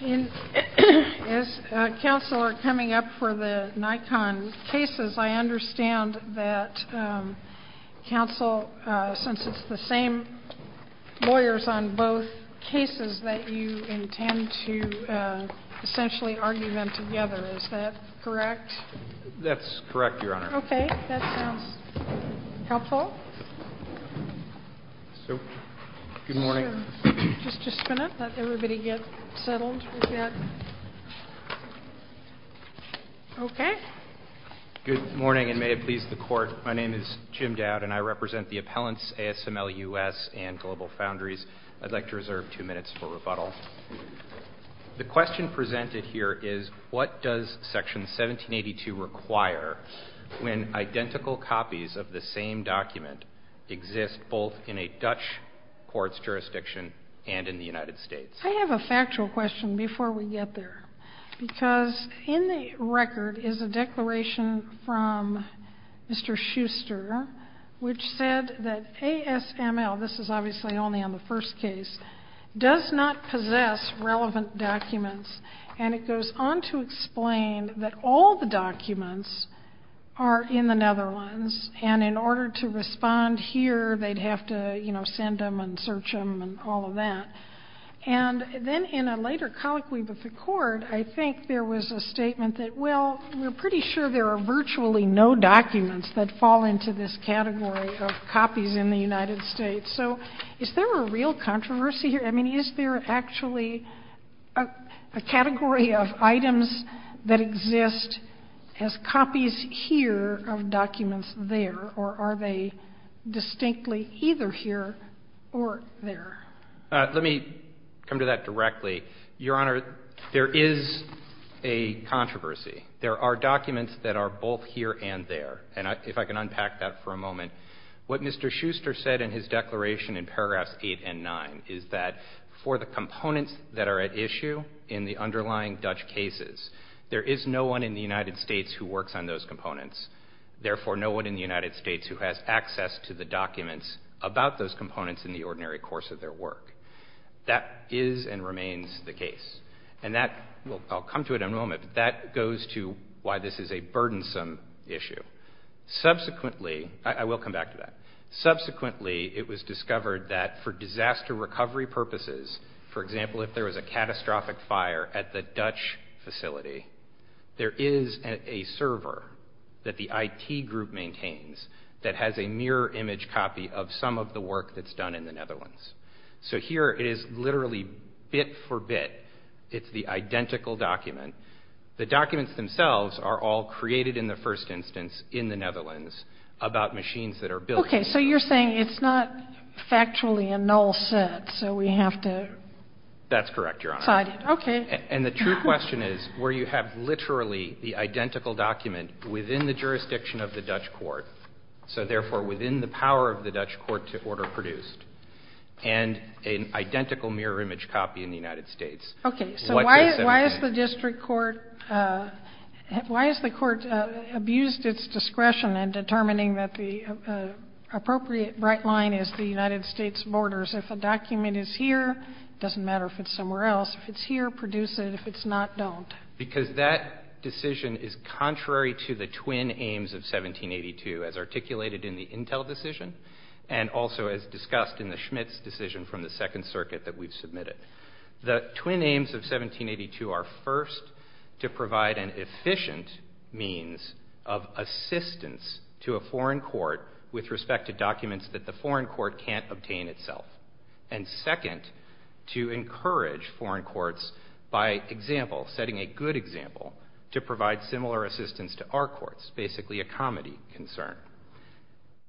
As counsel are coming up for the Nikon cases, I understand that counsel, since it's the same lawyers on both cases, that you intend to essentially argue them together. Is that correct? That's correct, Your Honor. Okay, that sounds helpful. So, good morning. Just a minute, let everybody get settled. Okay. Good morning, and may it please the Court, my name is Jim Dowd, and I represent the appellants, ASML U.S. and Global Foundries. I'd like to reserve two minutes for rebuttal. The question presented here is, what does Section 1782 require when identical copies of the same document exist both in a Dutch court's jurisdiction and in the United States? I have a factual question before we get there, because in the record is a declaration from Mr. Schuster, which said that ASML, this is obviously only on the first case, does not possess relevant documents. And it goes on to explain that all the documents are in the Netherlands, and in order to respond here, they'd have to, you know, send them and search them and all of that. And then in a later colloquy before court, I think there was a statement that, well, we're pretty sure there are virtually no documents that fall into this category of copies in the United States. So is there a real controversy here? I mean, is there actually a category of items that exist as copies here of documents there, or are they distinctly either here or there? Let me come to that directly. Your Honor, there is a controversy. There are documents that are both here and there. And if I can unpack that for a moment, what Mr. Schuster said in his declaration in paragraphs 8 and 9 is that for the components that are at issue in the underlying Dutch cases, there is no one in the United States who works on those components. Therefore, no one in the United States who has access to the documents about those components in the ordinary course of their work. That is and remains the case. And that, well, I'll come to it in a moment, but that goes to why this is a burdensome issue. Subsequently, I will come back to that. Subsequently, it was discovered that for disaster recovery purposes, for example, if there was a catastrophic fire at the Dutch facility, there is a server that the IT group maintains that has a mirror image copy of some of the work that's done in the Netherlands. So here it is literally bit for bit. It's the identical document. The documents themselves are all created in the first instance in the Netherlands about machines that are built. Okay, so you're saying it's not factually a null set, so we have to decide it. That's correct, Your Honor. Okay. And the true question is where you have literally the identical document within the jurisdiction of the Dutch court, so therefore within the power of the Dutch court to order produced. And an identical mirror image copy in the United States. Okay, so why has the district court abused its discretion in determining that the appropriate bright line is the United States borders? If a document is here, it doesn't matter if it's somewhere else. If it's here, produce it. If it's not, don't. Because that decision is contrary to the twin aims of 1782 as articulated in the Intel decision and also as discussed in the Schmitz decision from the Second Circuit that we've submitted. The twin aims of 1782 are first, to provide an efficient means of assistance to a foreign court with respect to documents that the foreign court can't obtain itself. And second, to encourage foreign courts by example, setting a good example, to provide similar assistance to our courts, basically a comedy concern.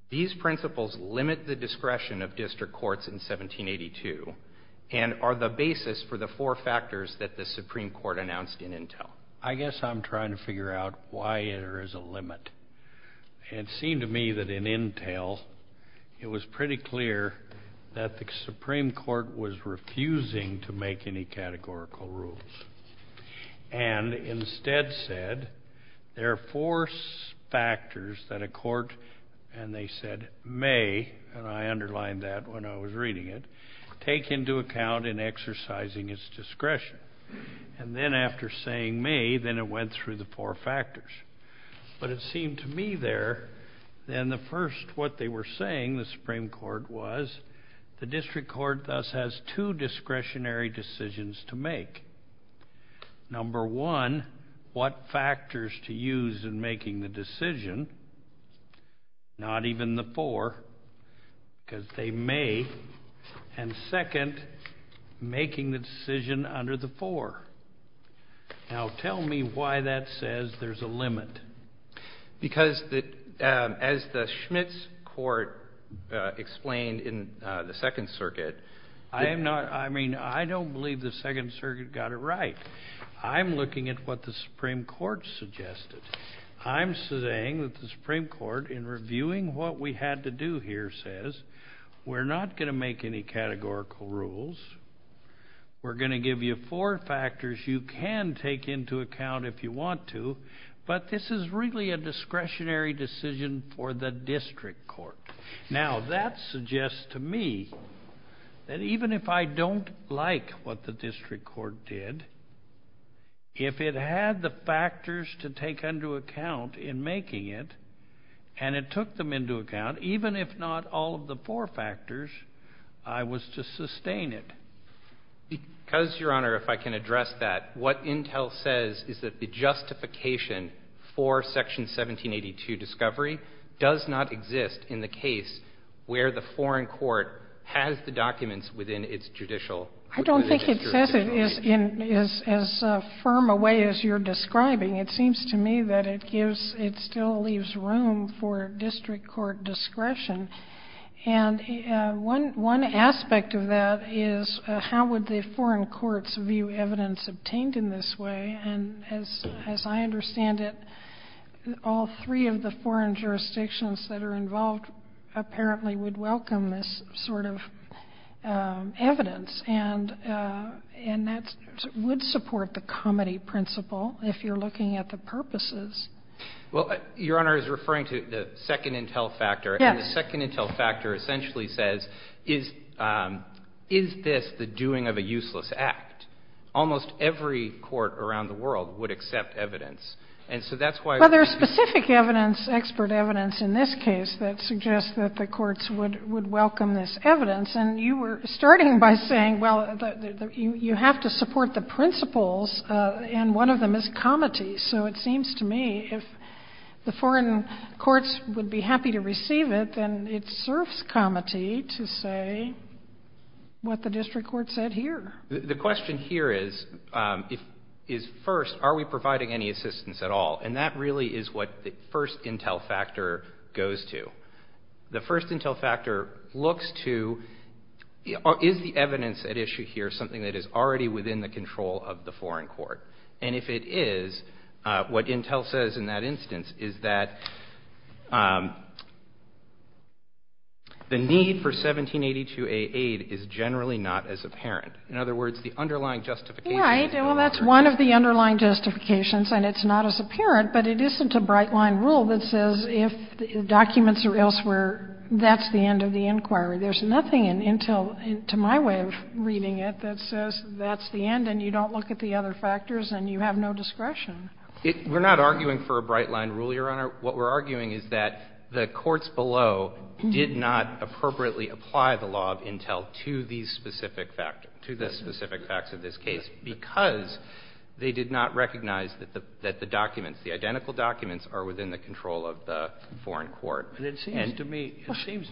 These principles limit the discretion of district courts in 1782 and are the basis for the four factors that the Supreme Court announced in Intel. I guess I'm trying to figure out why there is a limit. It seemed to me that in Intel, it was pretty clear that the Supreme Court was refusing to make any categorical rules. And instead said there are four factors that a court, and they said may, and I underlined that when I was reading it, take into account in exercising its discretion. And then after saying may, then it went through the four factors. But it seemed to me there, then the first what they were saying, the Supreme Court, was the district court thus has two discretionary decisions to make. Number one, what factors to use in making the decision, not even the four, because they may. And second, making the decision under the four. Now tell me why that says there's a limit. Because as the Schmitz Court explained in the Second Circuit. I am not, I mean, I don't believe the Second Circuit got it right. I'm looking at what the Supreme Court suggested. I'm saying that the Supreme Court, in reviewing what we had to do here, says we're not going to make any categorical rules. We're going to give you four factors you can take into account if you want to. But this is really a discretionary decision for the district court. Now that suggests to me that even if I don't like what the district court did, if it had the factors to take into account in making it, and it took them into account, even if not all of the four factors, I was to sustain it. Because, Your Honor, if I can address that, what Intel says is that the justification for Section 1782 discovery does not exist in the case where the foreign court has the documents within its judicial. I don't think it says it in as firm a way as you're describing. It seems to me that it gives, it still leaves room for district court discretion. And one aspect of that is how would the foreign courts view evidence obtained in this way? And as I understand it, all three of the foreign jurisdictions that are involved apparently would welcome this sort of evidence. And that would support the comity principle if you're looking at the purposes. Well, Your Honor is referring to the second Intel factor. Yes. And the second Intel factor essentially says, is this the doing of a useless act? Almost every court around the world would accept evidence. And so that's why we're going to do this. Well, there's specific evidence, expert evidence in this case that suggests that the courts would welcome this evidence. And you were starting by saying, well, you have to support the principles, and one of them is comity. So it seems to me if the foreign courts would be happy to receive it, then it serves comity to say what the district court said here. The question here is, first, are we providing any assistance at all? And that really is what the first Intel factor goes to. The first Intel factor looks to, is the evidence at issue here something that is already within the control of the foreign court? And if it is, what Intel says in that instance is that the need for 1782A aid is generally not as apparent. In other words, the underlying justification is not as apparent. Right. Well, that's one of the underlying justifications, and it's not as apparent, but it isn't a bright-line rule that says if documents are elsewhere, that's the end of the inquiry. There's nothing in Intel, to my way of reading it, that says that's the end and you don't look at the other factors and you have no discretion. We're not arguing for a bright-line rule, Your Honor. What we're arguing is that the courts below did not appropriately apply the law of Intel to these specific factors, to the specific facts of this case, because they did not recognize that the documents, the identical documents, are within the control of the foreign court. It seems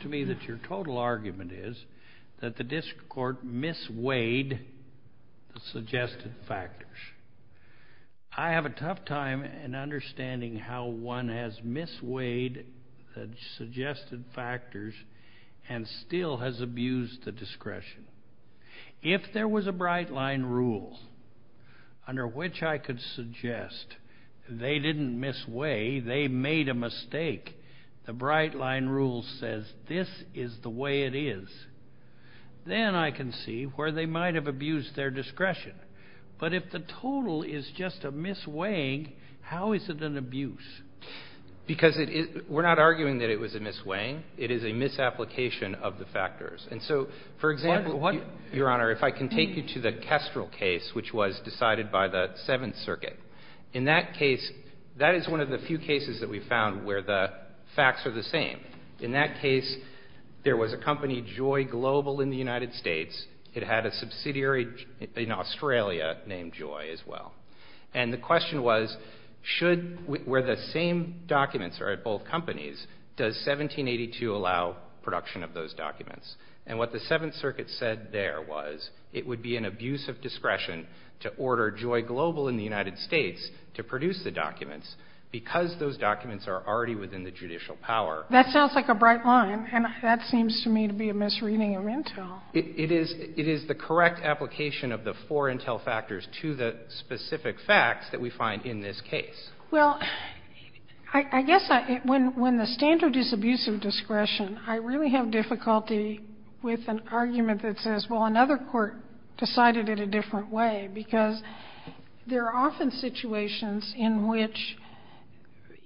to me that your total argument is that the district court misweighed the suggested factors. I have a tough time in understanding how one has misweighed the suggested factors and still has abused the discretion. If there was a bright-line rule under which I could suggest they didn't misweigh, they made a mistake, the bright-line rule says this is the way it is, then I can see where they might have abused their discretion. But if the total is just a misweighing, how is it an abuse? Because we're not arguing that it was a misweighing. It is a misapplication of the factors. And so, for example, Your Honor, if I can take you to the Kestrel case, which was decided by the Seventh Circuit. In that case, that is one of the few cases that we found where the facts are the same. In that case, there was a company, Joy Global, in the United States. It had a subsidiary in Australia named Joy as well. And the question was, where the same documents are at both companies, does 1782 allow production of those documents? And what the Seventh Circuit said there was it would be an abuse of discretion to order Joy Global in the United States to produce the documents because those documents are already within the judicial power. That sounds like a bright-line, and that seems to me to be a misreading of Intel. It is the correct application of the four Intel factors to the specific facts that we find in this case. Well, I guess when the standard is abuse of discretion, I really have difficulty with an argument that says, well, another court decided it a different way, because there are often situations in which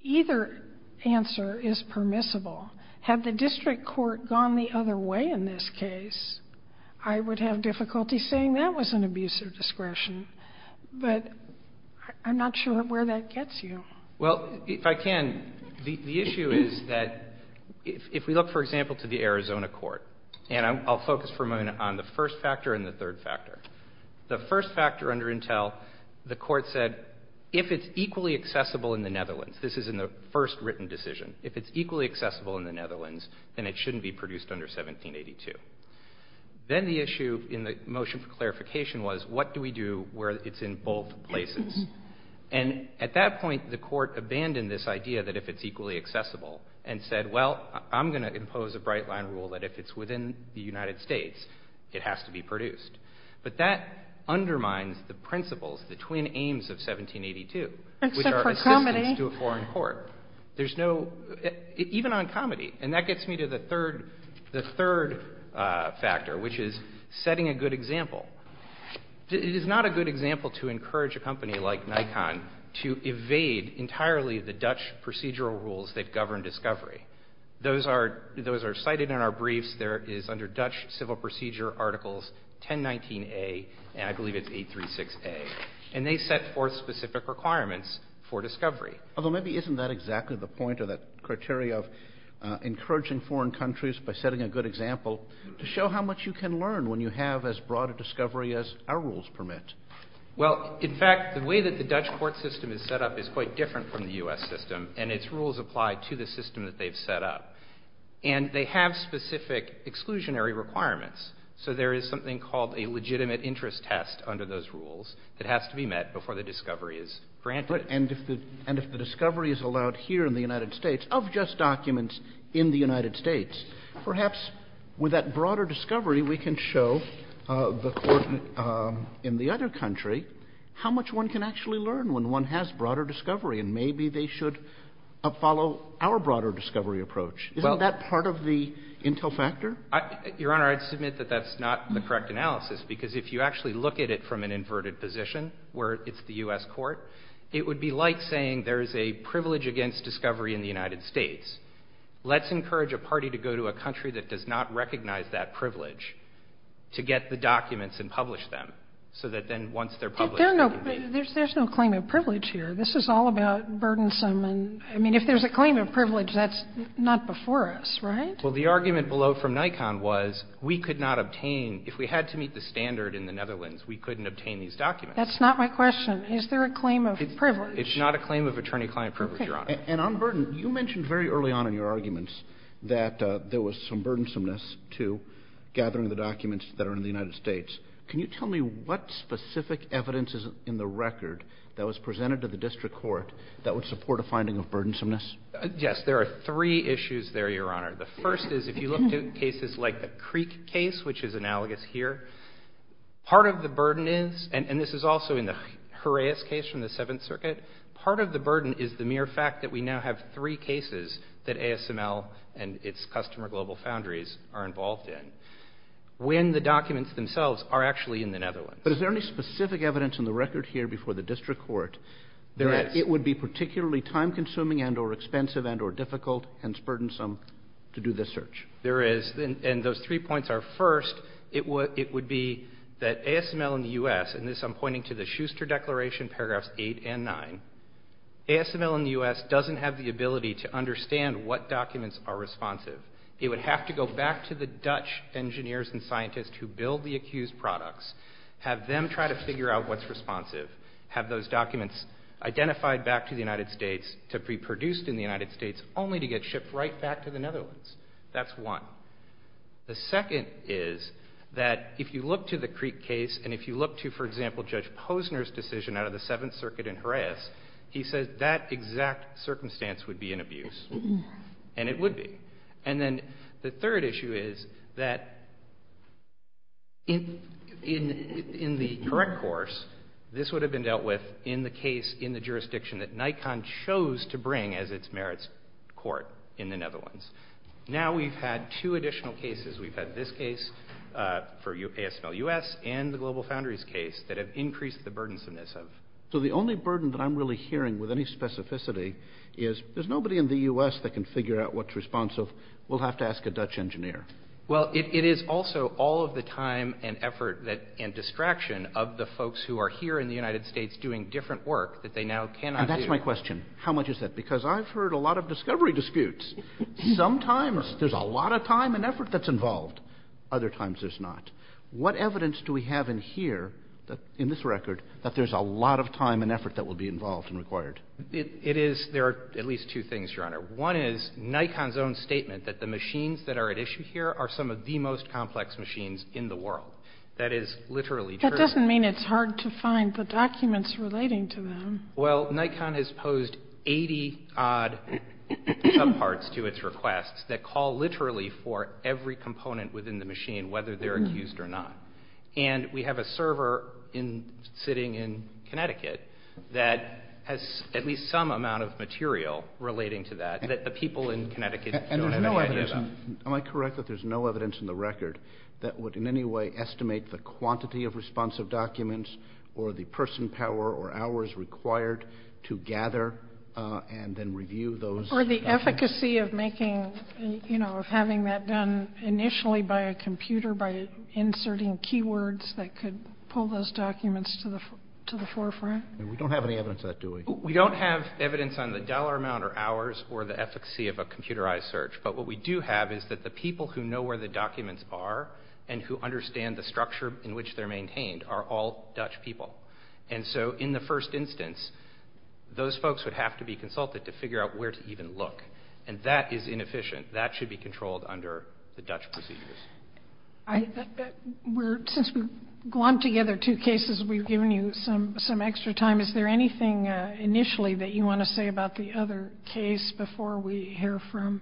either answer is permissible. Had the district court gone the other way in this case, I would have difficulty saying that was an abuse of discretion. But I'm not sure where that gets you. Well, if I can, the issue is that if we look, for example, to the Arizona court, and I'll focus for a moment on the first factor and the third factor. The first factor under Intel, the court said, if it's equally accessible in the Netherlands, this is in the first written decision, if it's equally accessible in the Netherlands, then it shouldn't be produced under 1782. Then the issue in the motion for clarification was, what do we do where it's in both places? And at that point, the court abandoned this idea that if it's equally accessible and said, well, I'm going to impose a bright-line rule that if it's within the United States, it has to be produced. But that undermines the principles, the twin aims of 1782, which are assistance to a foreign court. There's no – even on comedy. And that gets me to the third factor, which is setting a good example. It is not a good example to encourage a company like Nikon to evade entirely the Dutch procedural rules that govern discovery. Those are cited in our briefs. There is under Dutch civil procedure articles 1019A, and I believe it's 836A. And they set forth specific requirements for discovery. Although maybe isn't that exactly the point or that criteria of encouraging foreign countries by setting a good example to show how much you can learn when you have as broad a discovery as our rules permit? Well, in fact, the way that the Dutch court system is set up is quite different from the U.S. system, and its rules apply to the system that they've set up. And they have specific exclusionary requirements. So there is something called a legitimate interest test under those rules that has to be met before the discovery is granted. And if the discovery is allowed here in the United States of just documents in the United States, perhaps with that broader discovery we can show the court in the other country how much one can actually learn when one has broader discovery, and maybe they should follow our broader discovery approach. Isn't that part of the intel factor? Your Honor, I'd submit that that's not the correct analysis, because if you actually look at it from an inverted position where it's the U.S. court, it would be like saying there is a privilege against discovery in the United States. Let's encourage a party to go to a country that does not recognize that privilege to get the documents and publish them, so that then once they're published they can be— But there's no claim of privilege here. This is all about burdensome and—I mean, if there's a claim of privilege, that's not before us, right? Well, the argument below from Nikon was we could not obtain— if we had to meet the standard in the Netherlands, we couldn't obtain these documents. That's not my question. Is there a claim of privilege? It's not a claim of attorney-client privilege, Your Honor. And on burden, you mentioned very early on in your arguments that there was some burdensomeness to gathering the documents that are in the United States. Can you tell me what specific evidence is in the record that was presented to the district court that would support a finding of burdensomeness? Yes. There are three issues there, Your Honor. The first is if you look to cases like the Creek case, which is analogous here, part of the burden is, and this is also in the Horaeus case from the Seventh Circuit, part of the burden is the mere fact that we now have three cases that ASML and its customer global foundries are involved in, when the documents themselves are actually in the Netherlands. But is there any specific evidence in the record here before the district court— Yes. —that it would be particularly time-consuming and or expensive and or difficult, hence burdensome, to do this search? There is. And those three points are, first, it would be that ASML in the U.S. —and this I'm pointing to the Schuster Declaration, paragraphs 8 and 9— ASML in the U.S. doesn't have the ability to understand what documents are responsive. It would have to go back to the Dutch engineers and scientists who build the accused products, have them try to figure out what's responsive, have those documents identified back to the United States to be produced in the United States, only to get shipped right back to the Netherlands. That's one. The second is that if you look to the Creek case, and if you look to, for example, Judge Posner's decision out of the Seventh Circuit in Jerez, he says that exact circumstance would be an abuse. And it would be. And then the third issue is that in the correct course, this would have been dealt with in the case in the jurisdiction that Nikon chose to bring as its merits court in the Netherlands. Now we've had two additional cases. We've had this case for ASML U.S. and the Global Foundries case that have increased the burdensomeness of. So the only burden that I'm really hearing with any specificity is there's nobody in the U.S. that can figure out what's responsive. We'll have to ask a Dutch engineer. Well, it is also all of the time and effort and distraction of the folks who are here in the United States doing different work that they now cannot do. And that's my question. How much is that? Because I've heard a lot of discovery disputes. Sometimes there's a lot of time and effort that's involved. Other times there's not. What evidence do we have in here, in this record, that there's a lot of time and effort that will be involved and required? It is. There are at least two things, Your Honor. One is Nikon's own statement that the machines that are at issue here are some of the most complex machines in the world. That is literally true. That doesn't mean it's hard to find the documents relating to them. Well, Nikon has posed 80-odd subparts to its requests that call literally for every component within the machine, whether they're accused or not. And we have a server sitting in Connecticut that has at least some amount of material relating to that that the people in Connecticut don't have any idea about. Am I correct that there's no evidence in the record that would in any way estimate the quantity of responsive documents or the person power or hours required to gather and then review those? Or the efficacy of having that done initially by a computer, by inserting keywords that could pull those documents to the forefront? We don't have any evidence of that, do we? We don't have evidence on the dollar amount or hours or the efficacy of a computerized search. But what we do have is that the people who know where the documents are and who understand the structure in which they're maintained are all Dutch people. And so in the first instance, those folks would have to be consulted to figure out where to even look. And that is inefficient. That should be controlled under the Dutch procedures. Since we've glommed together two cases, we've given you some extra time. Is there anything initially that you want to say about the other case before we hear from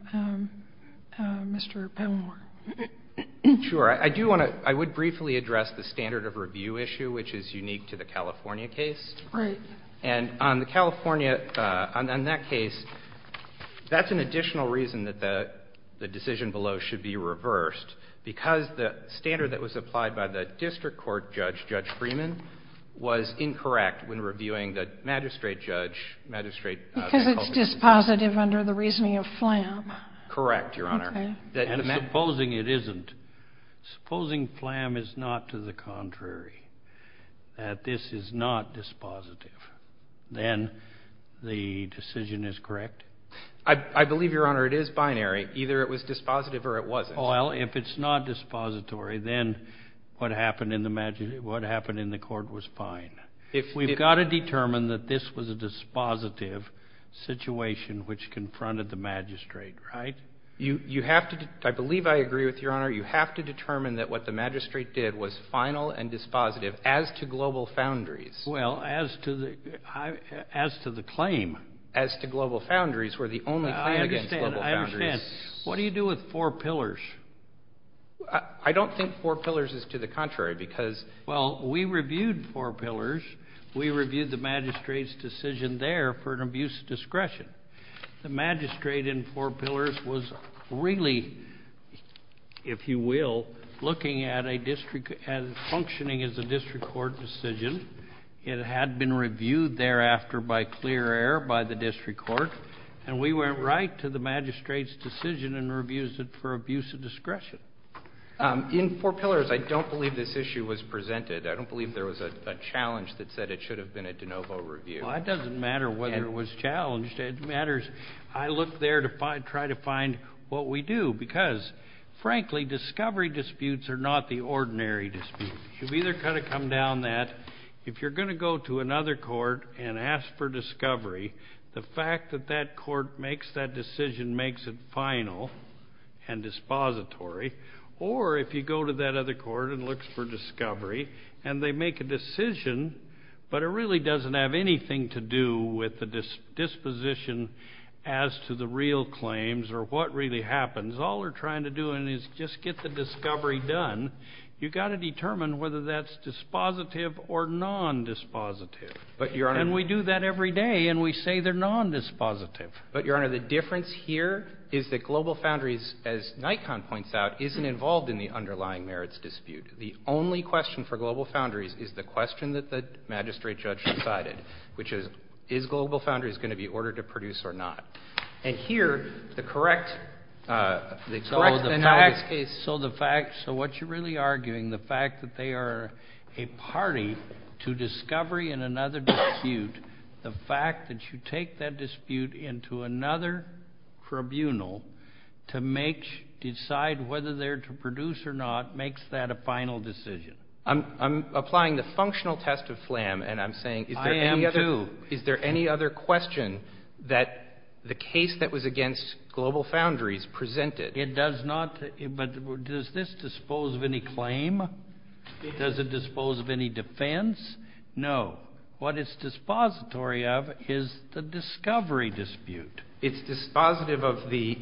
Mr. Palmore? Sure. I do want to — I would briefly address the standard of review issue, which is unique to the California case. Right. And on the California — on that case, that's an additional reason that the decision below should be reversed, because the standard that was applied by the district court judge, Judge Freeman, was incorrect when reviewing the magistrate judge, magistrate — Because it's dispositive under the reasoning of Flam. Correct, Your Honor. Okay. And supposing it isn't? Supposing Flam is not to the contrary, that this is not dispositive, then the decision is correct? I believe, Your Honor, it is binary. Either it was dispositive or it wasn't. Well, if it's not dispository, then what happened in the court was fine. If we've got to determine that this was a dispositive situation, which confronted the magistrate, right? You have to — I believe I agree with Your Honor. You have to determine that what the magistrate did was final and dispositive as to global foundries. Well, as to the claim. As to global foundries, where the only claim against global foundries. I understand. What do you do with four pillars? I don't think four pillars is to the contrary, because — In four pillars, we reviewed the magistrate's decision there for an abuse of discretion. The magistrate in four pillars was really, if you will, looking at a district and functioning as a district court decision. It had been reviewed thereafter by clear error by the district court, and we went right to the magistrate's decision and reviewed it for abuse of discretion. In four pillars, I don't believe this issue was presented. I don't believe there was a challenge that said it should have been a de novo review. Well, it doesn't matter whether it was challenged. It matters I look there to try to find what we do, because, frankly, discovery disputes are not the ordinary disputes. You've either got to come down that if you're going to go to another court and ask for discovery, the fact that that court makes that decision makes it final and dispository, or if you go to that other court and look for discovery, and they make a decision, but it really doesn't have anything to do with the disposition as to the real claims or what really happens. All we're trying to do is just get the discovery done. You've got to determine whether that's dispositive or nondispositive. But, Your Honor — And we do that every day, and we say they're nondispositive. But, Your Honor, the difference here is that Global Foundries, as Nikon points out, isn't involved in the underlying merits dispute. The only question for Global Foundries is the question that the magistrate judge decided, which is, is Global Foundries going to be ordered to produce or not? And here, the correct analysis case — So the fact — so what you're really arguing, the fact that they are a party to discovery in another dispute, the fact that you take that dispute into another tribunal to decide whether they're to produce or not makes that a final decision. I'm applying the functional test of flam, and I'm saying — I am, too. Is there any other question that the case that was against Global Foundries presented? It does not. But does this dispose of any claim? Does it dispose of any defense? No. What it's dispository of is the discovery dispute. It's dispositive of the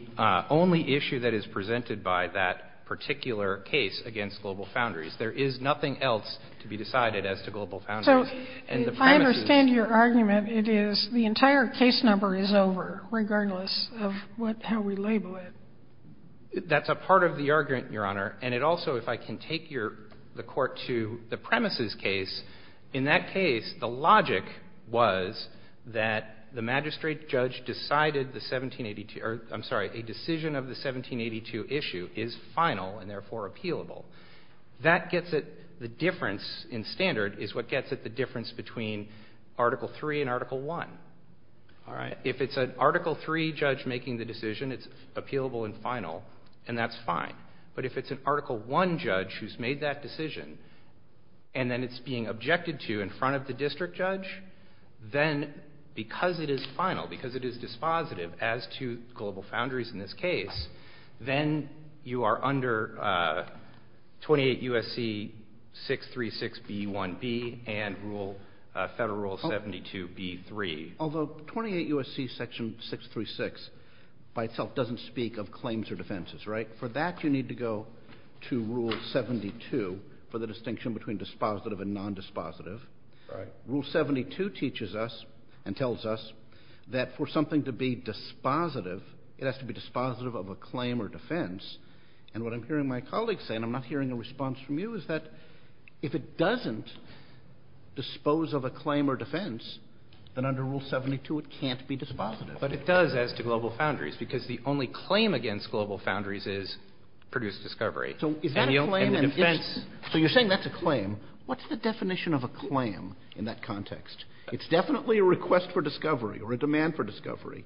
only issue that is presented by that particular case against Global Foundries. There is nothing else to be decided as to Global Foundries. And the premises — So I understand your argument. It is — the entire case number is over, regardless of what — how we label it. That's a part of the argument, Your Honor. And it also — if I can take your — the court to the premises case, in that case, the logic was that the magistrate judge decided the 1782 — or, I'm sorry, a decision of the 1782 issue is final and therefore appealable. That gets it — the difference in standard is what gets it the difference between Article III and Article I. All right? If it's an Article III judge making the decision, it's appealable and final, and that's fine. But if it's an Article I judge who's made that decision and then it's being objected to in front of the district judge, then because it is final, because it is dispositive as to Global Foundries in this case, then you are under 28 U.S.C. 636b1b and Federal Rule 72b3. Although 28 U.S.C. Section 636 by itself doesn't speak of claims or defenses, right? For that, you need to go to Rule 72 for the distinction between dispositive and nondispositive. All right. Rule 72 teaches us and tells us that for something to be dispositive, it has to be dispositive of a claim or defense. And what I'm hearing my colleagues say, and I'm not hearing a response from you, is that if it doesn't dispose of a claim or defense, then under Rule 72 it can't be dispositive. But it does as to Global Foundries, because the only claim against Global Foundries is produced discovery. So is that a claim and a defense? So you're saying that's a claim. What's the definition of a claim in that context? It's definitely a request for discovery or a demand for discovery.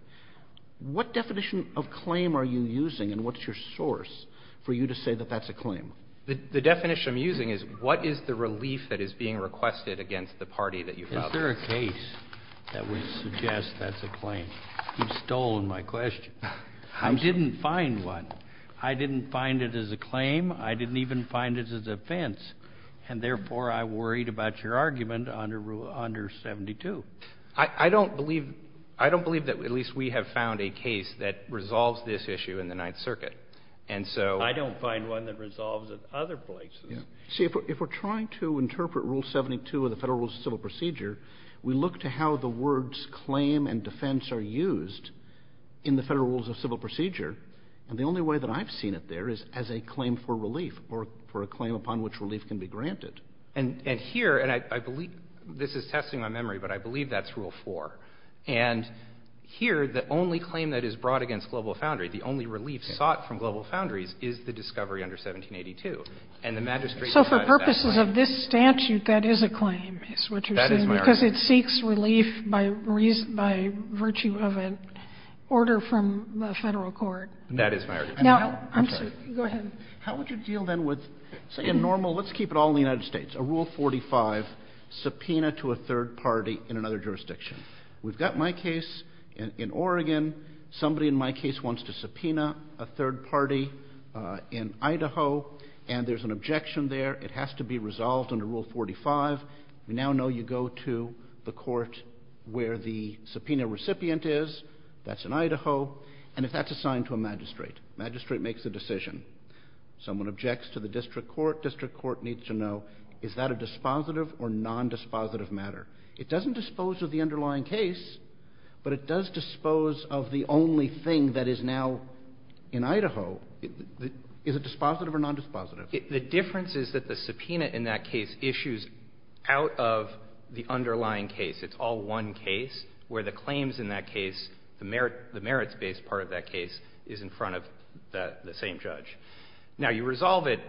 What definition of claim are you using and what's your source for you to say that that's a claim? The definition I'm using is what is the relief that is being requested against the party that you've brought? Is there a case that would suggest that's a claim? You've stolen my question. I didn't find one. I didn't find it as a claim. I didn't even find it as a defense. And therefore, I worried about your argument under Rule 72. I don't believe that at least we have found a case that resolves this issue in the Ninth Circuit. And so — I don't find one that resolves it other places. See, if we're trying to interpret Rule 72 of the Federal Rules of Civil Procedure, we look to how the words claim and defense are used in the Federal Rules of Civil Procedure, and the only way that I've seen it there is as a claim for relief or for a claim upon which relief can be granted. And here, and I believe this is testing my memory, but I believe that's Rule 4. And here, the only claim that is brought against Global Foundry, the only relief sought from Global Foundries, is the discovery under 1782. And the magistrate decides that. So for purposes of this statute, that is a claim, is what you're saying. That is my argument. Because it seeks relief by virtue of an order from the Federal court. That is my argument. Now, I'm sorry. Go ahead. How would you deal then with, say, a normal, let's keep it all in the United States, a Rule 45, subpoena to a third party in another jurisdiction? We've got my case in Oregon. Somebody in my case wants to subpoena a third party in Idaho, and there's an objection there. It has to be resolved under Rule 45. We now know you go to the court where the subpoena recipient is. That's in Idaho. And that's assigned to a magistrate. Magistrate makes a decision. Someone objects to the district court. District court needs to know, is that a dispositive or nondispositive matter? It doesn't dispose of the underlying case, but it does dispose of the only thing that is now in Idaho. Is it dispositive or nondispositive? The difference is that the subpoena in that case issues out of the underlying case. It's all one case where the claims in that case, the merits-based part of that case, is in front of the same judge. Now, you resolve it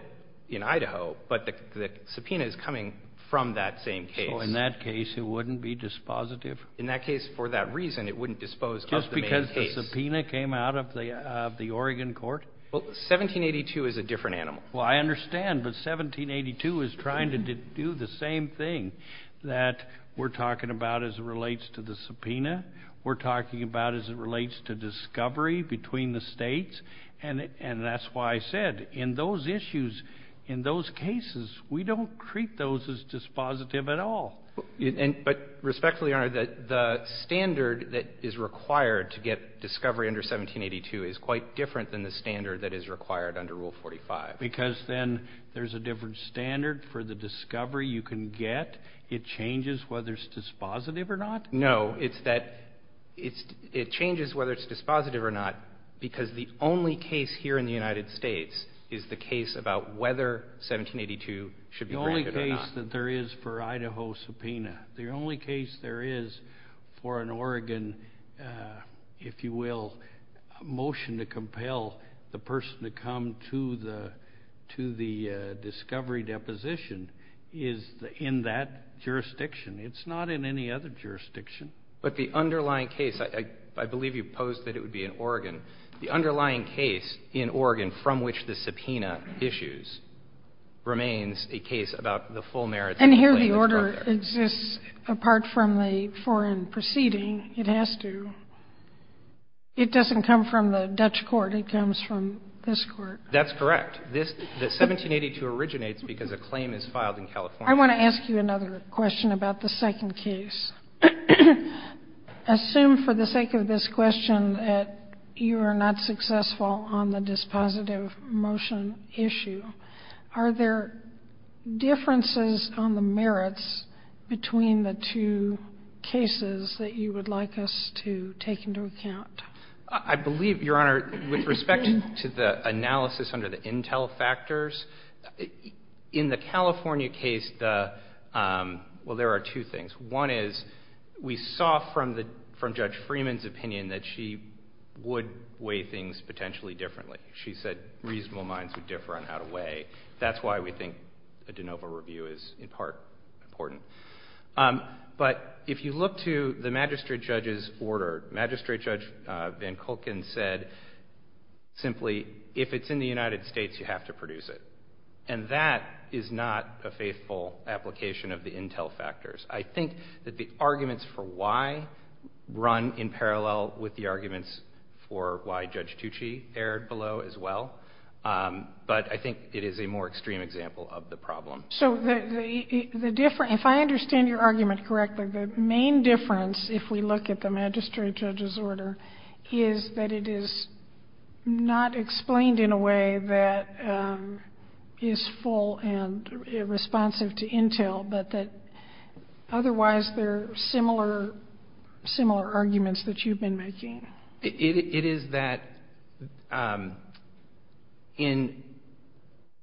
in Idaho, but the subpoena is coming from that same case. Oh, in that case, it wouldn't be dispositive? In that case, for that reason, it wouldn't dispose of the main case. Just because the subpoena came out of the Oregon court? Well, 1782 is a different animal. Well, I understand, but 1782 is trying to do the same thing that we're talking about as it relates to the subpoena. We're talking about as it relates to discovery between the states. And that's why I said in those issues, in those cases, we don't treat those as dispositive at all. But respectfully, Your Honor, the standard that is required to get discovery under 1782 is quite different than the standard that is required under Rule 45. Because then there's a different standard for the discovery you can get. It changes whether it's dispositive or not? No, it's that it changes whether it's dispositive or not because the only case here in the United States is the case about whether 1782 should be granted or not. The only case that there is for Idaho subpoena, the only case there is for an Oregon, if you will, motion to compel the person to come to the discovery deposition is in that jurisdiction. It's not in any other jurisdiction. But the underlying case, I believe you posed that it would be in Oregon. The underlying case in Oregon from which the subpoena issues remains a case about the full merits of the claim. And here the order exists apart from the foreign proceeding. It has to. It doesn't come from the Dutch court. It comes from this court. That's correct. 1782 originates because a claim is filed in California. I want to ask you another question about the second case. Assume for the sake of this question that you are not successful on the dispositive motion issue. Are there differences on the merits between the two cases that you would like us to take into account? I believe, Your Honor, with respect to the analysis under the intel factors, in the California case, well, there are two things. One is we saw from Judge Freeman's opinion that she would weigh things potentially differently. She said reasonable minds would differ on how to weigh. That's why we think a de novo review is in part important. But if you look to the magistrate judge's order, Magistrate Judge Van Kulken said simply, if it's in the United States, you have to produce it. And that is not a faithful application of the intel factors. I think that the arguments for why run in parallel with the arguments for why Judge Tucci erred below as well. But I think it is a more extreme example of the problem. So the difference, if I understand your argument correctly, the main difference, if we look at the magistrate judge's order, is that it is not explained in a way that is full and responsive to intel, but that otherwise they're similar arguments that you've been making. It is that in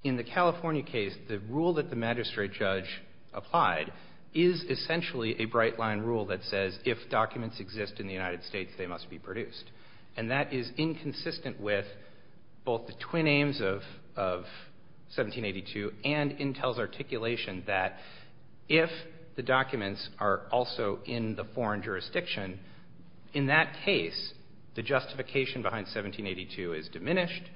the California case, the rule that the magistrate judge applied is essentially a bright line rule that says if documents exist in the United States, they must be produced. And that is inconsistent with both the twin aims of 1782 and intel's articulation that if the documents are also in the foreign jurisdiction, in that case, the justification behind 1782 is diminished.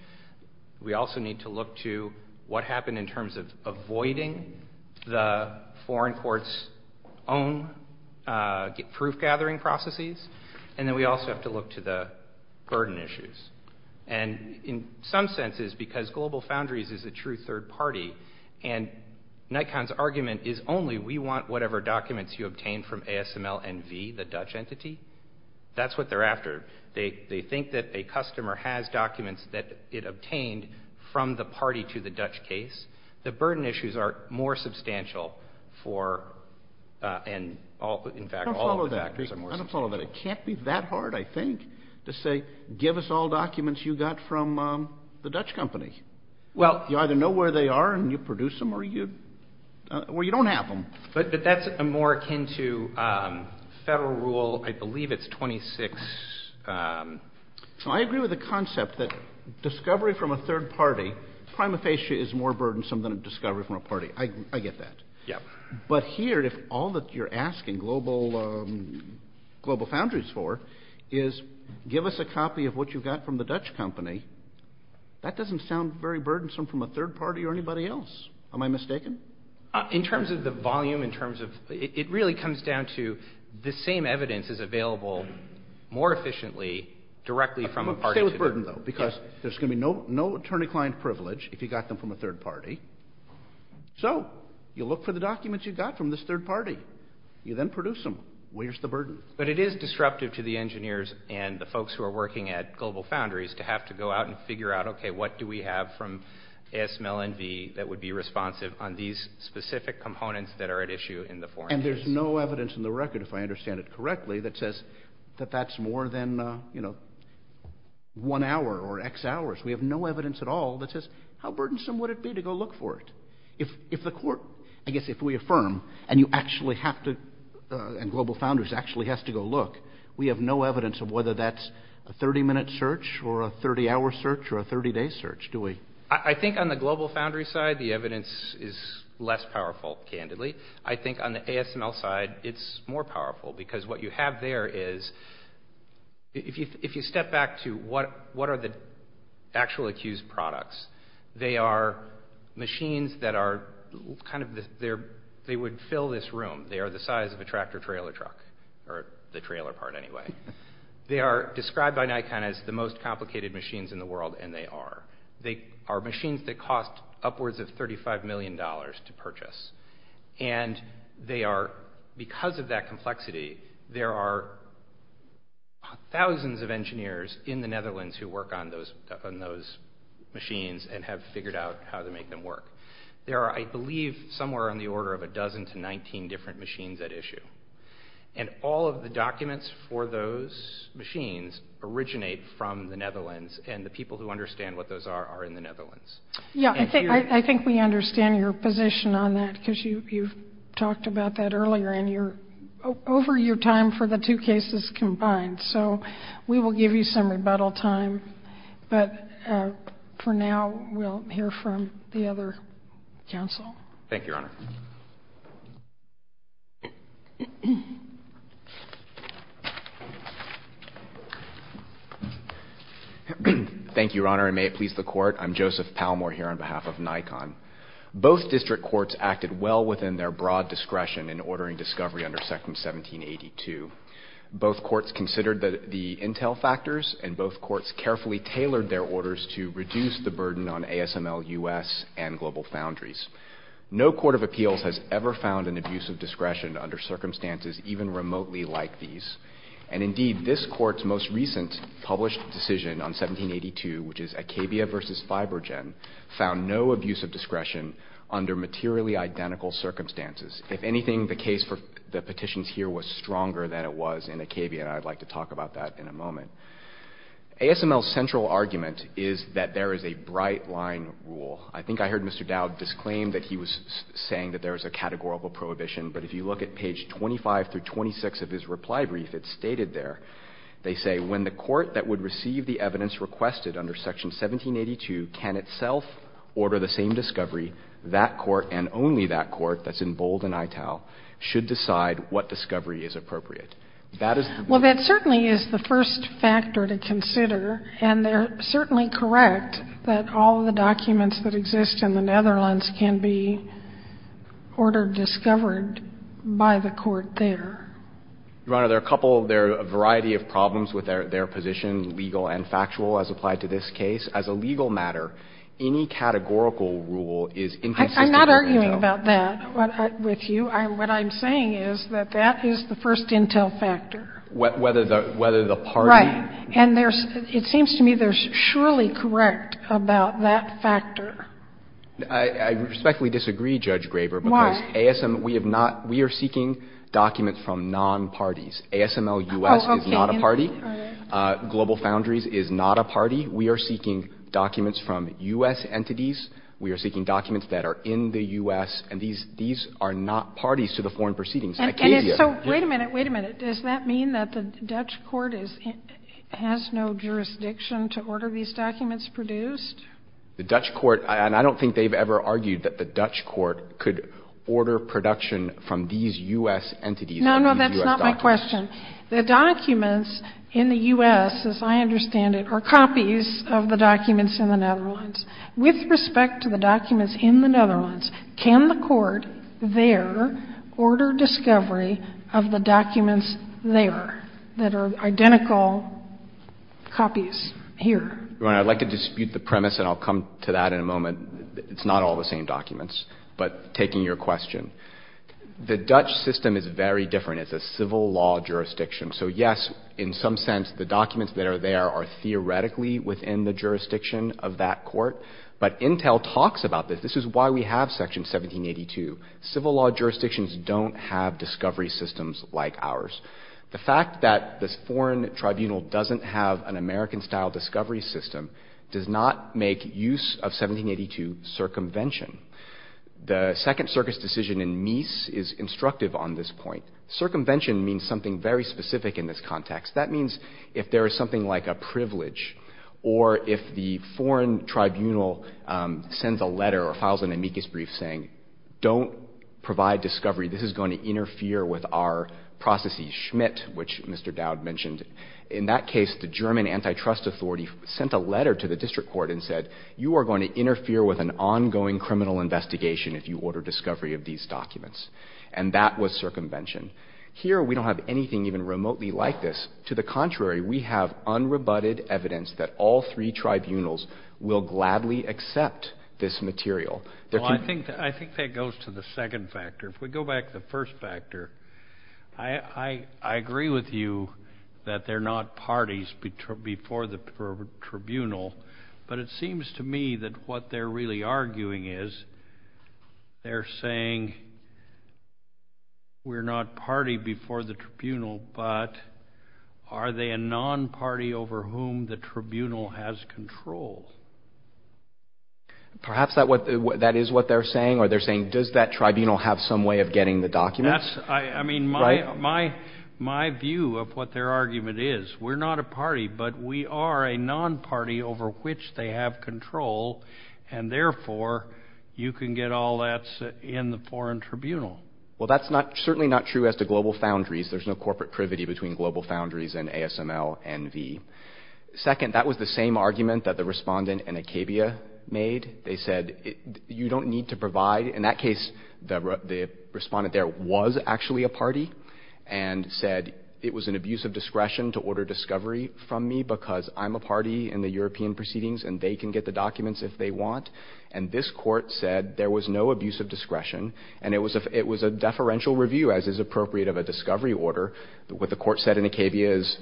We also need to look to what happened in terms of avoiding the foreign court's own proof gathering processes. And then we also have to look to the burden issues. And in some senses, because Global Foundries is a true third party, and Nikon's argument is only we want whatever documents you obtain from ASMLNV, the Dutch entity, that's what they're after. They think that a customer has documents that it obtained from the party to the Dutch case. The burden issues are more substantial for, and in fact, all of the factors are more substantial. I don't follow that. I don't follow that. It can't be that hard, I think, to say give us all documents you got from the Dutch company. You either know where they are and you produce them or you don't have them. But that's more akin to federal rule, I believe it's 26. I agree with the concept that discovery from a third party, prima facie, is more burdensome than a discovery from a party. I get that. Yeah. But here, if all that you're asking Global Foundries for is give us a copy of what you got from the Dutch company, that doesn't sound very burdensome from a third party or anybody else. Am I mistaken? In terms of the volume, in terms of, it really comes down to the same evidence is available more efficiently directly from a party. Stay with burden, though, because there's going to be no attorney-client privilege if you got them from a third party. So, you look for the documents you got from this third party. You then produce them. Where's the burden? But it is disruptive to the engineers and the folks who are working at Global Foundries to have to go out and figure out, okay, what do we have from ASML and V that would be these specific components that are at issue in the foreign case? And there's no evidence in the record, if I understand it correctly, that says that that's more than, you know, one hour or X hours. We have no evidence at all that says, how burdensome would it be to go look for it? If the court, I guess if we affirm, and you actually have to, and Global Foundries actually has to go look, we have no evidence of whether that's a 30-minute search or a 30-hour search or a 30-day search, do we? I think on the Global Foundries side, the evidence is less powerful, candidly. I think on the ASML side, it's more powerful because what you have there is, if you step back to what are the actual accused products, they are machines that are kind of, they would fill this room. They are the size of a tractor-trailer truck, or the trailer part anyway. They are described by Nikon as the most complicated machines in the world, and they are. They are machines that cost upwards of $35 million to purchase, and they are, because of that complexity, there are thousands of engineers in the Netherlands who work on those machines and have figured out how to make them work. There are, I believe, somewhere on the order of a dozen to 19 different machines at issue, and all of the documents for those machines originate from the Netherlands and the people who understand what those are are in the Netherlands. Yeah, I think we understand your position on that, because you've talked about that earlier, and you're over your time for the two cases combined, so we will give you some rebuttal time, but for now, we'll hear from the other counsel. Thank you, Your Honor. Thank you, Your Honor, and may it please the Court. I'm Joseph Palmore here on behalf of Nikon. Both district courts acted well within their broad discretion in ordering discovery under Section 1782. Both courts considered the intel factors, and both courts carefully tailored their orders to reduce the burden on ASML-US and global foundries. No court of appeals has ever found an abuse of discretion under circumstances even remotely like these. And indeed, this Court's most recent published decision on 1782, which is Acabia v. Fibrogen, found no abuse of discretion under materially identical circumstances. If anything, the case for the petitions here was stronger than it was in Acabia, and I'd like to talk about that in a moment. ASML's central argument is that there is a bright-line rule. I think I heard Mr. Dowd disclaim that he was saying that there is a categorical prohibition, but if you look at page 25 through 26 of his reply brief, it's stated there. They say, When the court that would receive the evidence requested under Section 1782 can itself order the same discovery, that court and only that court, that's in bold in ITAL, should decide what discovery is appropriate. That is the rule. Well, that certainly is the first factor to consider, and they're certainly correct that all of the documents that exist in the Netherlands can be ordered, discovered by the court there. Your Honor, there are a couple of there are a variety of problems with their position, legal and factual, as applied to this case. As a legal matter, any categorical rule is inconsistent with ITAL. I'm not arguing about that with you. What I'm saying is that that is the first intel factor. Whether the party. Right. And it seems to me they're surely correct about that factor. I respectfully disagree, Judge Graber. Why? Because we have not, we are seeking documents from non-parties. ASML U.S. is not a party. Global Foundries is not a party. We are seeking documents from U.S. entities. We are seeking documents that are in the U.S. And these are not parties to the foreign proceedings. And it's so, wait a minute, wait a minute. Does that mean that the Dutch court has no jurisdiction to order these documents produced? The Dutch court, and I don't think they've ever argued that the Dutch court could order production from these U.S. entities. No, no, that's not my question. The documents in the U.S., as I understand it, are copies of the documents in the Netherlands. With respect to the documents in the Netherlands, can the court there order discovery of the documents there that are identical copies here? Your Honor, I'd like to dispute the premise, and I'll come to that in a moment. It's not all the same documents. But taking your question, the Dutch system is very different. It's a civil law jurisdiction. So, yes, in some sense, the documents that are there are theoretically within the jurisdiction of that court. But Intel talks about this. This is why we have Section 1782. Civil law jurisdictions don't have discovery systems like ours. The fact that this foreign tribunal doesn't have an American-style discovery system does not make use of 1782 circumvention. The Second Circus decision in Mies is instructive on this point. Circumvention means something very specific in this context. That means if there is something like a privilege or if the foreign tribunal sends a letter or files an amicus brief saying, don't provide discovery, this is going to interfere with our processes, Schmitt, which Mr. Dowd mentioned. In that case, the German antitrust authority sent a letter to the district court and said, you are going to interfere with an ongoing criminal investigation if you order discovery of these documents. And that was circumvention. Here, we don't have anything even remotely like this. To the contrary, we have unrebutted evidence that all three tribunals will gladly accept this material. Well, I think that goes to the second factor. If we go back to the first factor, I agree with you that they're not parties before the tribunal. But it seems to me that what they're really arguing is they're saying we're not party before the tribunal, but are they a non-party over whom the tribunal has control? Perhaps that is what they're saying, or they're saying, does that tribunal have some way of getting the documents? I mean, my view of what their argument is, we're not a party, but we are a non-party over which they have control, and therefore, you can get all that in the foreign tribunal. Well, that's certainly not true as to global foundries. There's no corporate privity between global foundries and ASML and V. Second, that was the same argument that the respondent in Acabia made. They said you don't need to provide. In that case, the respondent there was actually a party and said it was an abuse of discretion to order discovery from me because I'm a party in the European proceedings and they can get the documents if they want. And this Court said there was no abuse of discretion, and it was a deferential review, as is appropriate of a discovery order. What the Court said in Acabia is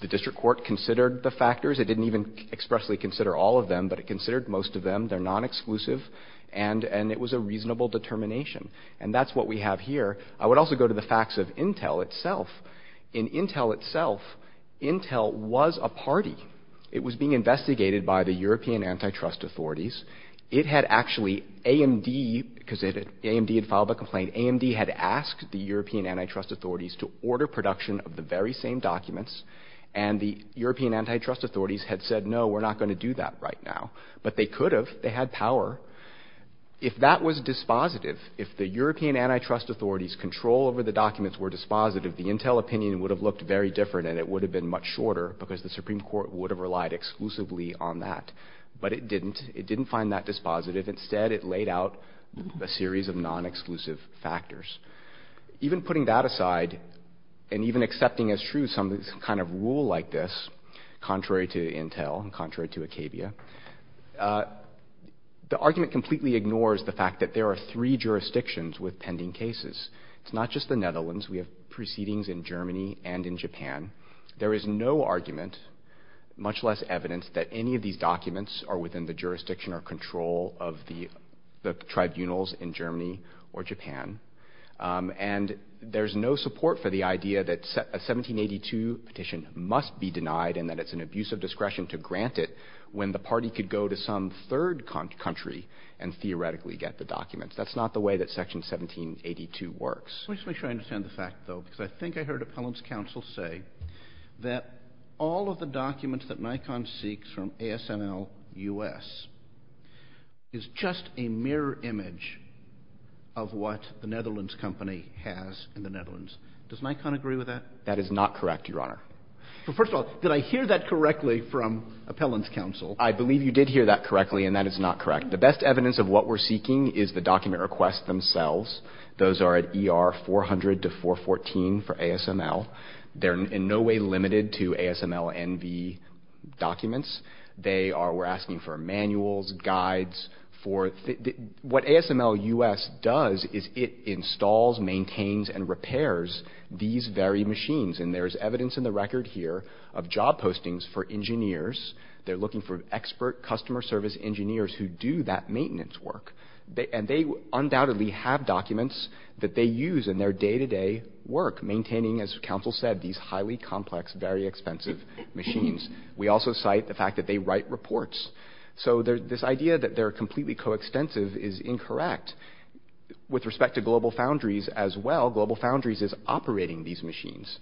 the district court considered the factors. It didn't even expressly consider all of them, but it considered most of them. They're non-exclusive, and it was a reasonable determination. And that's what we have here. I would also go to the facts of Intel itself. In Intel itself, Intel was a party. It was being investigated by the European antitrust authorities. It had actually, AMD, because AMD had filed a complaint, AMD had asked the European antitrust authorities to order production of the very same documents, and the European antitrust authorities had said, no, we're not going to do that right now. But they could have. They had power. If that was dispositive, if the European antitrust authorities' control over the documents were dispositive, the Intel opinion would have looked very different and it would have been much shorter because the Supreme Court would have relied exclusively on that. But it didn't. It didn't find that dispositive. Instead, it laid out a series of non-exclusive factors. Even putting that aside and even accepting as true some kind of rule like this, contrary to Intel and contrary to Acabia, the argument completely ignores the fact that there are three jurisdictions with pending cases. It's not just the Netherlands. We have proceedings in Germany and in Japan. There is no argument, much less evidence, that any of these documents are within the jurisdiction or control of the tribunals in Germany or Japan. And there's no support for the idea that a 1782 petition must be denied and that it's an abuse of discretion to grant it when the party could go to some third country and theoretically get the documents. That's not the way that Section 1782 works. Because I think I heard Appellant's counsel say that all of the documents that Nikon seeks from ASNL-US is just a mirror image of what the Netherlands company has in the Netherlands. Does Nikon agree with that? That is not correct, Your Honor. Well, first of all, did I hear that correctly from Appellant's counsel? I believe you did hear that correctly, and that is not correct. The best evidence of what we're seeking is the document requests themselves. Those are at ER 400 to 414 for ASNL. They're in no way limited to ASNL-NV documents. We're asking for manuals, guides. What ASNL-US does is it installs, maintains, and repairs these very machines. And there is evidence in the record here of job postings for engineers. They're looking for expert customer service engineers who do that maintenance work. And they undoubtedly have documents that they use in their day-to-day work, maintaining, as counsel said, these highly complex, very expensive machines. We also cite the fact that they write reports. So this idea that they're completely coextensive is incorrect. With respect to Global Foundries as well, Global Foundries is operating these machines.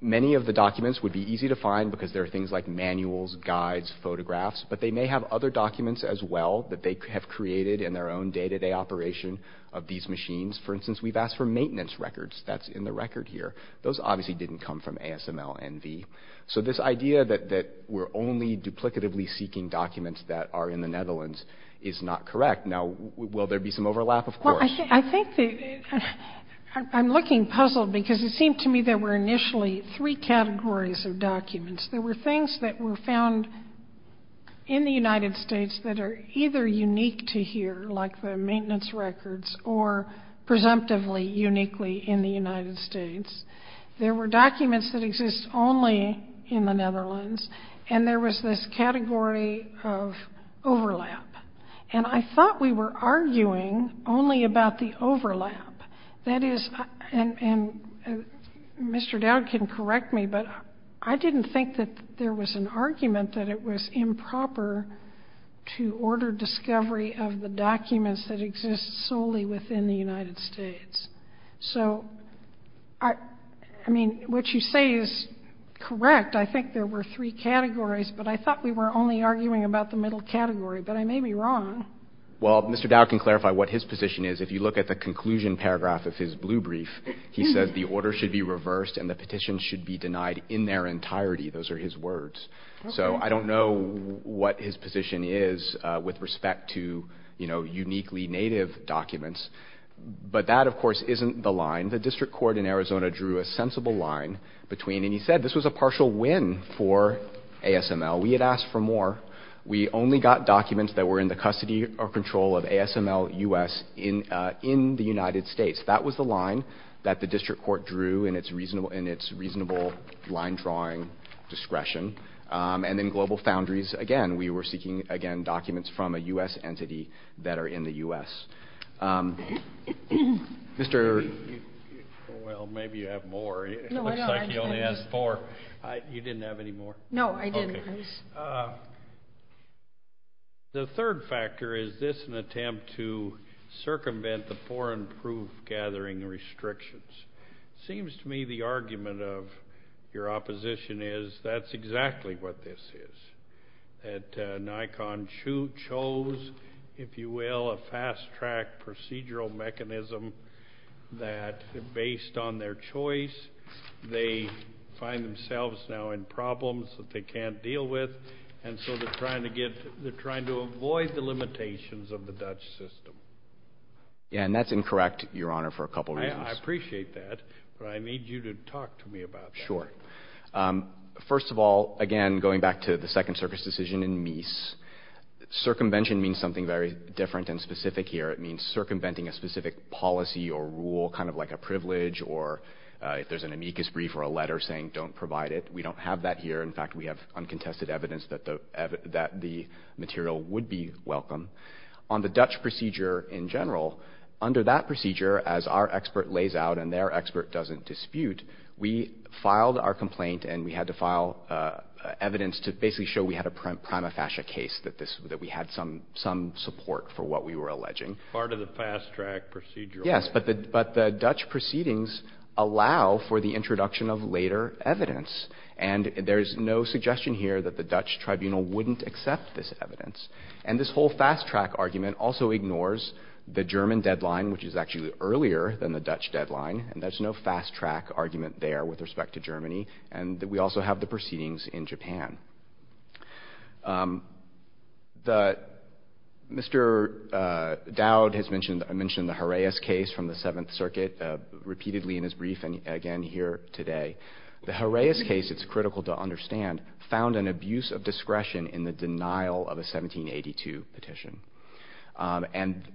Many of the documents would be easy to find because there are things like manuals, guides, photographs. But they may have other documents as well that they have created in their own day-to-day operation of these machines. For instance, we've asked for maintenance records. That's in the record here. Those obviously didn't come from ASNL-NV. So this idea that we're only duplicatively seeking documents that are in the Netherlands is not correct. Now, will there be some overlap? Of course. I'm looking puzzled because it seemed to me there were initially three categories of documents. There were things that were found in the United States that are either unique to here, like the maintenance records, or presumptively uniquely in the United States. There were documents that exist only in the Netherlands. And there was this category of overlap. And I thought we were arguing only about the overlap. That is, and Mr. Dowd can correct me, but I didn't think that there was an argument that it was improper to order discovery of the documents that exist solely within the United States. So, I mean, what you say is correct. I think there were three categories, but I thought we were only arguing about the middle category. But I may be wrong. Well, Mr. Dowd can clarify what his position is. If you look at the conclusion paragraph of his blue brief, he says the order should be reversed and the petitions should be denied in their entirety. Those are his words. So I don't know what his position is with respect to uniquely native documents. But that, of course, isn't the line. The district court in Arizona drew a sensible line between, and he said this was a partial win for ASNL. We had asked for more. We only got documents that were in the custody or control of ASNL U.S. in the United States. That was the line that the district court drew in its reasonable line drawing discretion. And in global foundries, again, we were seeking, again, documents from a U.S. entity that are in the U.S. Mr. Well, maybe you have more. It looks like he only has four. You didn't have any more? No, I didn't. Okay. The third factor, is this an attempt to circumvent the foreign proof-gathering restrictions? It seems to me the argument of your opposition is that's exactly what this is, that Nikon chose, if you will, a fast-track procedural mechanism that, based on their choice, they find themselves now in problems that they can't deal with, and so they're trying to avoid the limitations of the Dutch system. Yeah, and that's incorrect, Your Honor, for a couple reasons. I appreciate that, but I need you to talk to me about that. Sure. First of all, again, going back to the Second Circus decision in Mies, circumvention means something very different and specific here. It means circumventing a specific policy or rule, kind of like a privilege, or if there's an amicus brief or a letter saying don't provide it. We don't have that here. In fact, we have uncontested evidence that the material would be welcome. On the Dutch procedure in general, under that procedure, as our expert lays out and their expert doesn't dispute, we filed our complaint and we had to file evidence to basically show we had a prima facie case, that we had some support for what we were alleging. Part of the fast-track procedural. Yes, but the Dutch proceedings allow for the introduction of later evidence, and there's no suggestion here that the Dutch tribunal wouldn't accept this evidence. And this whole fast-track argument also ignores the German deadline, which is actually earlier than the Dutch deadline, and there's no fast-track argument there with respect to Germany, and we also have the proceedings in Japan. Mr. Dowd has mentioned the Horaeus case from the Seventh Circuit repeatedly in his brief, and again here today. The Horaeus case, it's critical to understand, found an abuse of discretion in the denial of a 1782 petition. And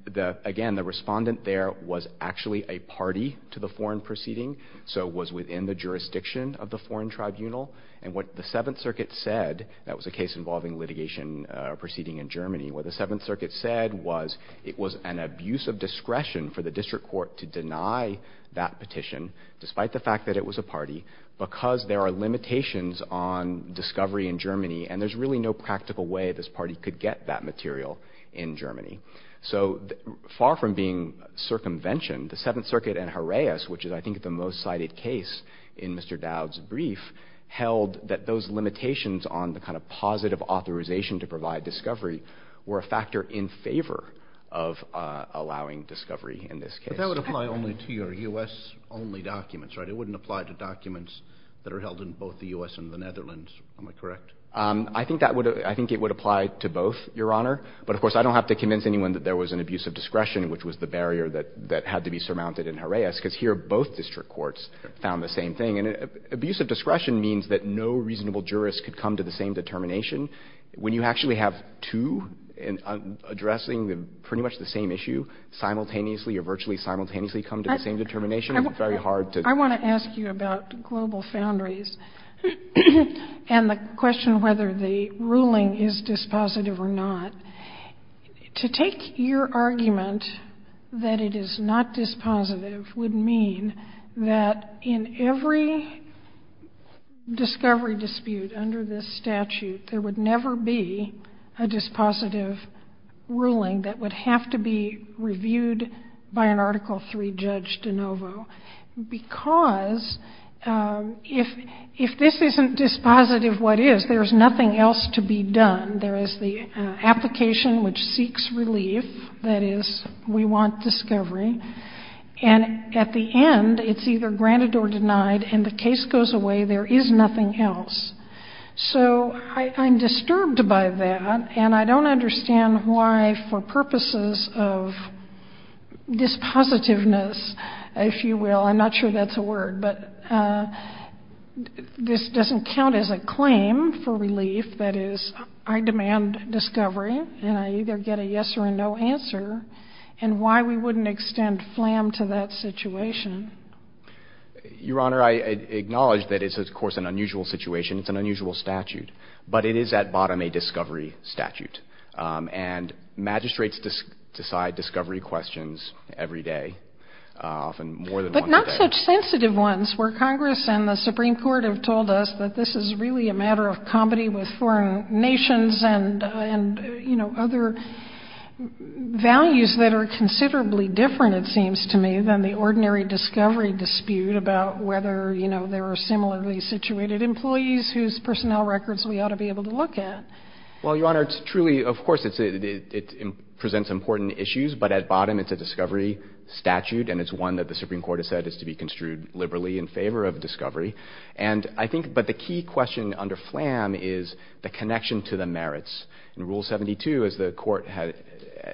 again, the respondent there was actually a party to the foreign proceeding, so was within the jurisdiction of the foreign tribunal, and what the Seventh Circuit said, that was a case involving litigation proceeding in Germany, what the Seventh Circuit said was it was an abuse of discretion for the district court to deny that petition, despite the fact that it was a party, because there are limitations on discovery in Germany, and there's really no practical way this party could get that material in Germany. So far from being circumvention, the Seventh Circuit and Horaeus, which is I think the most cited case in Mr. Dowd's brief, held that those limitations on the kind of positive authorization to provide discovery were a factor in favor of allowing discovery in this case. But that would apply only to your U.S.-only documents, right? It wouldn't apply to documents that are held in both the U.S. and the Netherlands. Am I correct? I think it would apply to both, Your Honor. But of course, I don't have to convince anyone that there was an abuse of discretion, which was the barrier that had to be surmounted in Horaeus, because here both district courts found the same thing. And abuse of discretion means that no reasonable jurist could come to the same determination. When you actually have two addressing pretty much the same issue simultaneously or virtually simultaneously come to the same determination, it's very hard to – I want to ask you about global foundries and the question whether the ruling is dispositive or not. To take your argument that it is not dispositive would mean that in every discovery dispute under this statute, there would never be a dispositive ruling that would have to be reviewed by an Article III judge de novo. Because if this isn't dispositive, what is? There is nothing else to be done. There is the application which seeks relief. That is, we want discovery. And at the end, it's either granted or denied. And the case goes away. There is nothing else. So I'm disturbed by that. And I don't understand why for purposes of dispositiveness, if you will – I'm not sure that's a word, but this doesn't count as a claim for relief. That is, I demand discovery, and I either get a yes or a no answer, and why we wouldn't extend FLAM to that situation. Your Honor, I acknowledge that it's, of course, an unusual situation. It's an unusual statute. But it is at bottom a discovery statute. And magistrates decide discovery questions every day, often more than once a day. But not such sensitive ones where Congress and the Supreme Court have told us that this is really a matter of comedy with foreign nations and, you know, other values that are considerably different, it seems to me, than the ordinary discovery dispute about whether, you know, there are similarly situated employees whose personnel records we ought to be able to look at. Well, Your Honor, it's truly, of course, it presents important issues. But at bottom, it's a discovery statute, and it's one that the Supreme Court has said is to be construed liberally in favor of discovery. And I think the key question under FLAM is the connection to the merits. And Rule 72, as the Court had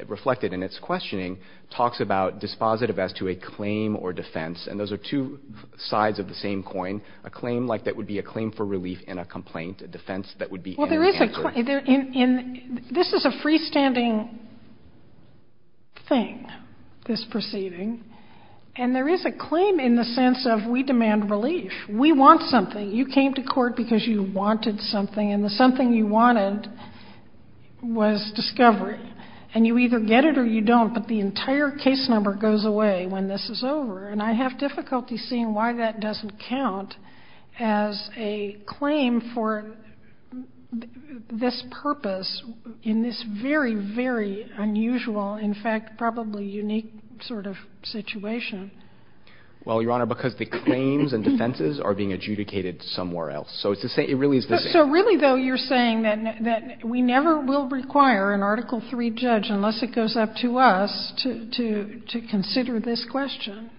reflected in its questioning, talks about dispositive as to a claim or defense. And those are two sides of the same coin, a claim like that would be a claim for relief and a complaint, a defense that would be an answer. Well, there is a claim. This is a freestanding thing, this proceeding. And there is a claim in the sense of we demand relief. We want something. You came to court because you wanted something. And the something you wanted was discovery. And you either get it or you don't. But the entire case number goes away when this is over. And I have difficulty seeing why that doesn't count as a claim for this purpose in this very, very unusual, in fact, probably unique sort of situation. Well, Your Honor, because the claims and defenses are being adjudicated somewhere else. So it really is the same. So really, though, you're saying that we never will require an Article III judge, unless it goes up to us, to consider this question,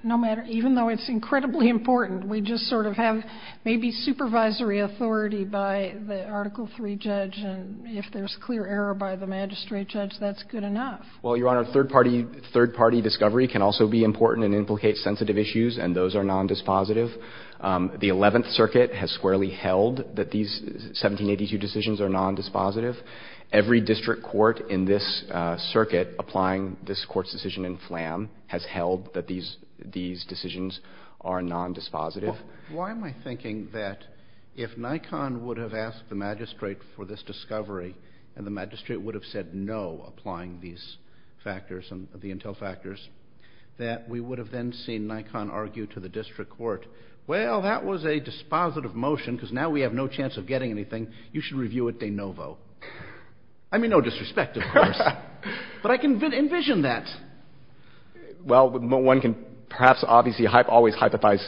even though it's incredibly important. We just sort of have maybe supervisory authority by the Article III judge. And if there's clear error by the magistrate judge, that's good enough. Well, Your Honor, third-party discovery can also be important and implicate sensitive issues, and those are nondispositive. The Eleventh Circuit has squarely held that these 1782 decisions are nondispositive. Every district court in this circuit applying this court's decision in Flam has held that these decisions are nondispositive. Well, why am I thinking that if Nikon would have asked the magistrate for this discovery and the magistrate would have said no, applying these factors and the intel factors, that we would have then seen Nikon argue to the district court, well, that was a dispositive motion because now we have no chance of getting anything. You should review it de novo. I mean, no disrespect, of course, but I can envision that. Well, one can perhaps obviously always hypothesize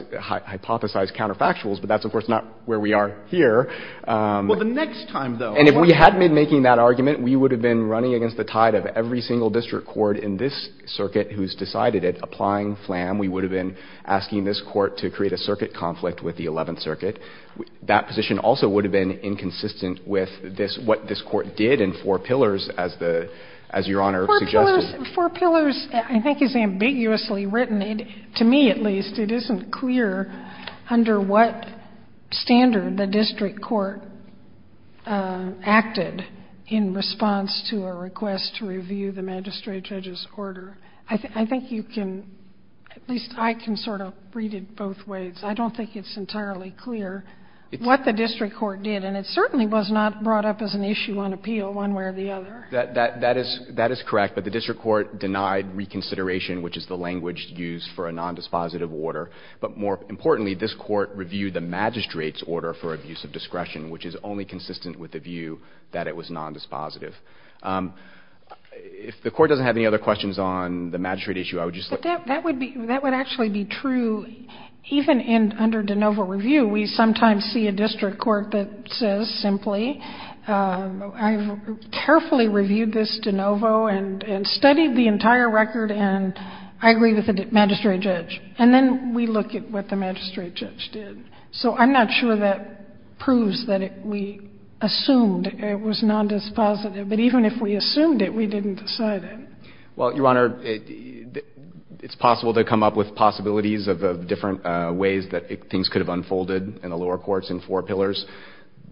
counterfactuals, but that's, of course, not where we are here. Well, the next time, though. And if we hadn't been making that argument, we would have been running against the tide of every single district court in this circuit who's decided it. Applying Flam, we would have been asking this court to create a circuit conflict with the Eleventh Circuit. That position also would have been inconsistent with this, what this court did in Four Pillars, as the, as Your Honor suggested. Four Pillars, I think, is ambiguously written. To me, at least, it isn't clear under what standard the district court acted in responding to a request to review the magistrate judge's order. I think you can, at least I can sort of read it both ways. I don't think it's entirely clear what the district court did, and it certainly was not brought up as an issue on appeal one way or the other. That is correct, but the district court denied reconsideration, which is the language used for a nondispositive order. But more importantly, this court reviewed the magistrate's order for abuse of discretion, which is only consistent with the view that it was nondispositive. If the court doesn't have any other questions on the magistrate issue, I would just like to ask. But that would be, that would actually be true even in, under de novo review. We sometimes see a district court that says simply, I've carefully reviewed this de novo and studied the entire record, and I agree with the magistrate judge. And then we look at what the magistrate judge did. So I'm not sure that proves that we assumed it was nondispositive. But even if we assumed it, we didn't decide it. Well, Your Honor, it's possible to come up with possibilities of different ways that things could have unfolded in the lower courts in four pillars.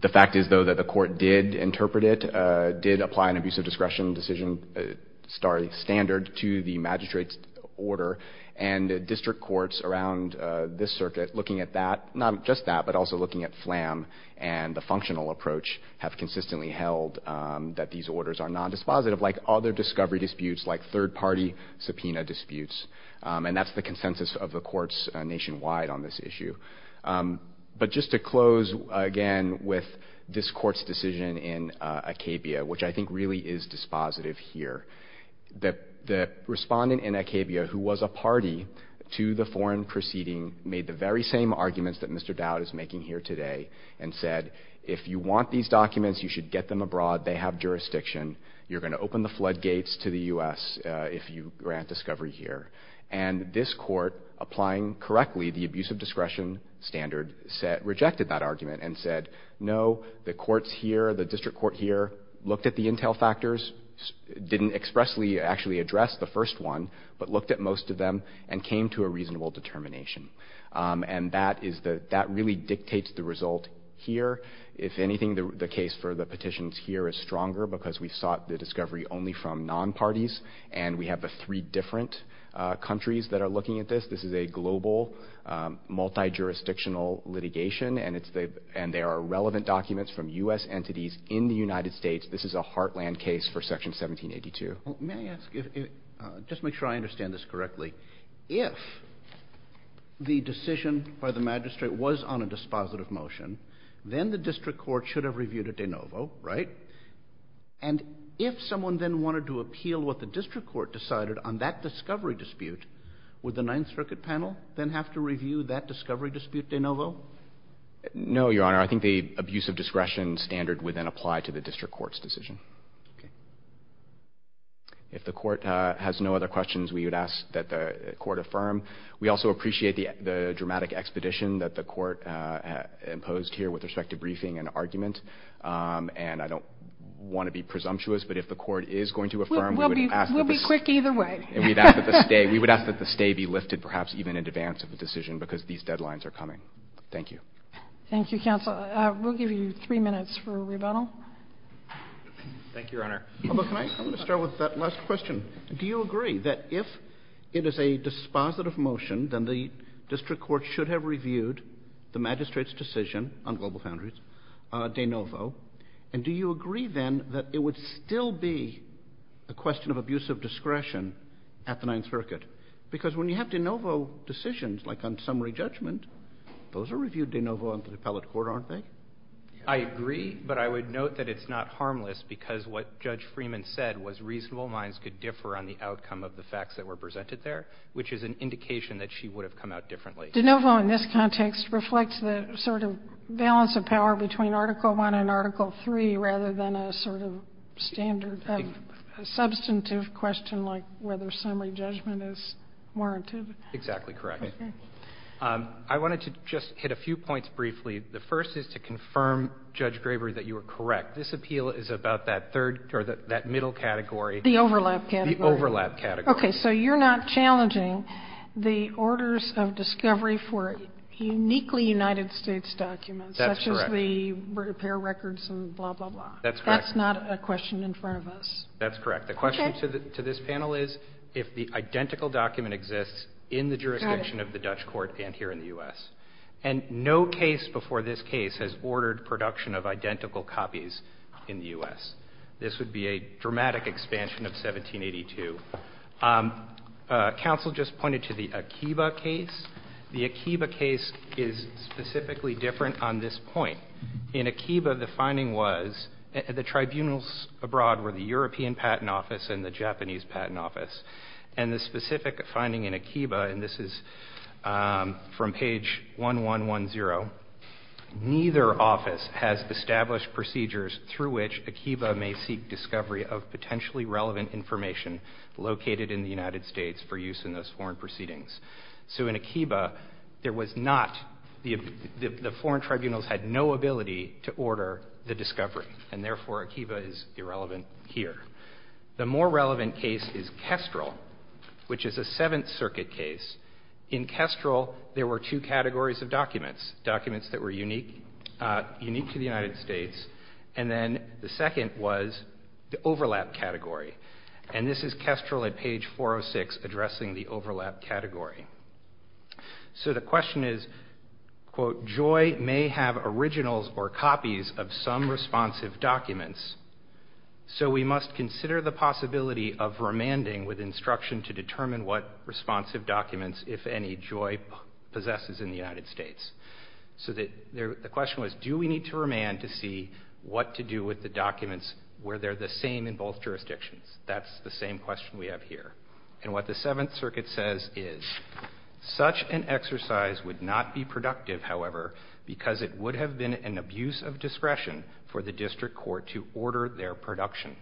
The fact is, though, that the court did interpret it, did apply an abuse of discretion decision standard to the magistrate's order. And district courts around this circuit, looking at that, not just that, but also looking at FLAM and the functional approach, have consistently held that these orders are nondispositive, like other discovery disputes, like third-party subpoena disputes. And that's the consensus of the courts nationwide on this issue. But just to close, again, with this Court's decision in Acabia, which I think really is dispositive here. The respondent in Acabia, who was a party to the foreign proceeding, made the very same arguments that Mr. Dowd is making here today and said, if you want these documents, you should get them abroad. They have jurisdiction. You're going to open the floodgates to the U.S. if you grant discovery here. And this Court, applying correctly the abuse of discretion standard, rejected that argument and said, no, the courts here, the district court here, looked at the intel factors, didn't expressly actually address the first one, but looked at most of them and came to a reasonable determination. And that is the – that really dictates the result here. If anything, the case for the petitions here is stronger because we sought the discovery only from non-parties, and we have the three different countries that are looking at this. This is a global, multijurisdictional litigation, and it's the – and there are relevant documents from U.S. entities in the United States. This is a heartland case for Section 1782. Well, may I ask if – just to make sure I understand this correctly. If the decision by the magistrate was on a dispositive motion, then the district court should have reviewed it de novo, right? And if someone then wanted to appeal what the district court decided on that discovery dispute, would the Ninth Circuit panel then have to review that discovery dispute de novo? No, Your Honor. I think the abuse of discretion standard would then apply to the district court's decision. Okay. If the court has no other questions, we would ask that the court affirm. We also appreciate the dramatic expedition that the court imposed here with respect to briefing and argument, and I don't want to be presumptuous, but if the court is going to affirm, we would ask that the – We'll be quick either way. And we'd ask that the stay – we would ask that the stay be lifted perhaps even in advance of the decision because these deadlines are coming. Thank you. Thank you, counsel. We'll give you three minutes for rebuttal. Thank you, Your Honor. I'm going to start with that last question. Do you agree that if it is a dispositive motion, then the district court should have reviewed the magistrate's decision on global foundries de novo? And do you agree then that it would still be a question of abuse of discretion at the Ninth Circuit? Because when you have de novo decisions, like on summary judgment, those are reviewed de novo on the appellate court, aren't they? I agree, but I would note that it's not harmless because what Judge Freeman said was reasonable minds could differ on the outcome of the facts that were presented there, which is an indication that she would have come out differently. De novo in this context reflects the sort of balance of power between Article I and Article III rather than a sort of standard substantive question like whether summary judgment is warranted. Exactly correct. Okay. I wanted to just hit a few points briefly. The first is to confirm, Judge Graber, that you are correct. This appeal is about that third or that middle category. The overlap category. The overlap category. Okay, so you're not challenging the orders of discovery for uniquely United States documents. That's correct. Such as the repair records and blah, blah, blah. That's correct. That's not a question in front of us. That's correct. The question to this panel is if the identical document exists in the jurisdiction of the Dutch court and here in the U.S. And no case before this case has ordered production of identical copies in the U.S. This would be a dramatic expansion of 1782. Counsel just pointed to the Akiba case. The Akiba case is specifically different on this point. In Akiba, the finding was the tribunals abroad were the European Patent Office and the Japanese Patent Office. And the specific finding in Akiba, and this is from page 1110, neither office has established procedures through which Akiba may seek discovery of potentially relevant information located in the United States for use in those foreign proceedings. So in Akiba, there was not, the foreign tribunals had no ability to order the discovery. And therefore, Akiba is irrelevant here. The more relevant case is Kestrel, which is a Seventh Circuit case. In Kestrel, there were two categories of documents. Documents that were unique to the United States. And then the second was the overlap category. And this is Kestrel at page 406 addressing the overlap category. So the question is, quote, joy may have originals or copies of some responsive documents, so we must consider the possibility of remanding with instruction to determine what responsive documents, if any, joy possesses in the United States. So the question was, do we need to remand to see what to do with the documents where they're the same in both jurisdictions? That's the same question we have here. And what the Seventh Circuit says is, such an exercise would not be productive, however, because it would have been an abuse of discretion for the district court to order their production.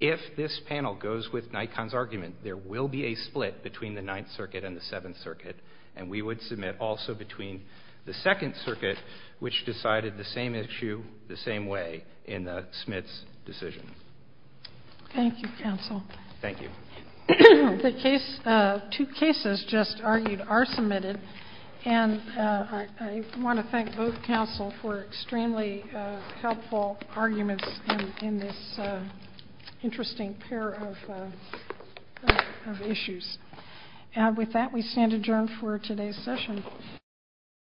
If this panel goes with Nikon's argument, there will be a split between the Ninth Circuit and the Seventh Circuit, and we would submit also between the Second Circuit, which decided the same issue the same way in the Smith's decision. Thank you, counsel. Thank you. The two cases just argued are submitted, and I want to thank both counsel for extremely helpful arguments in this interesting pair of issues. And with that, we stand adjourned for today's session.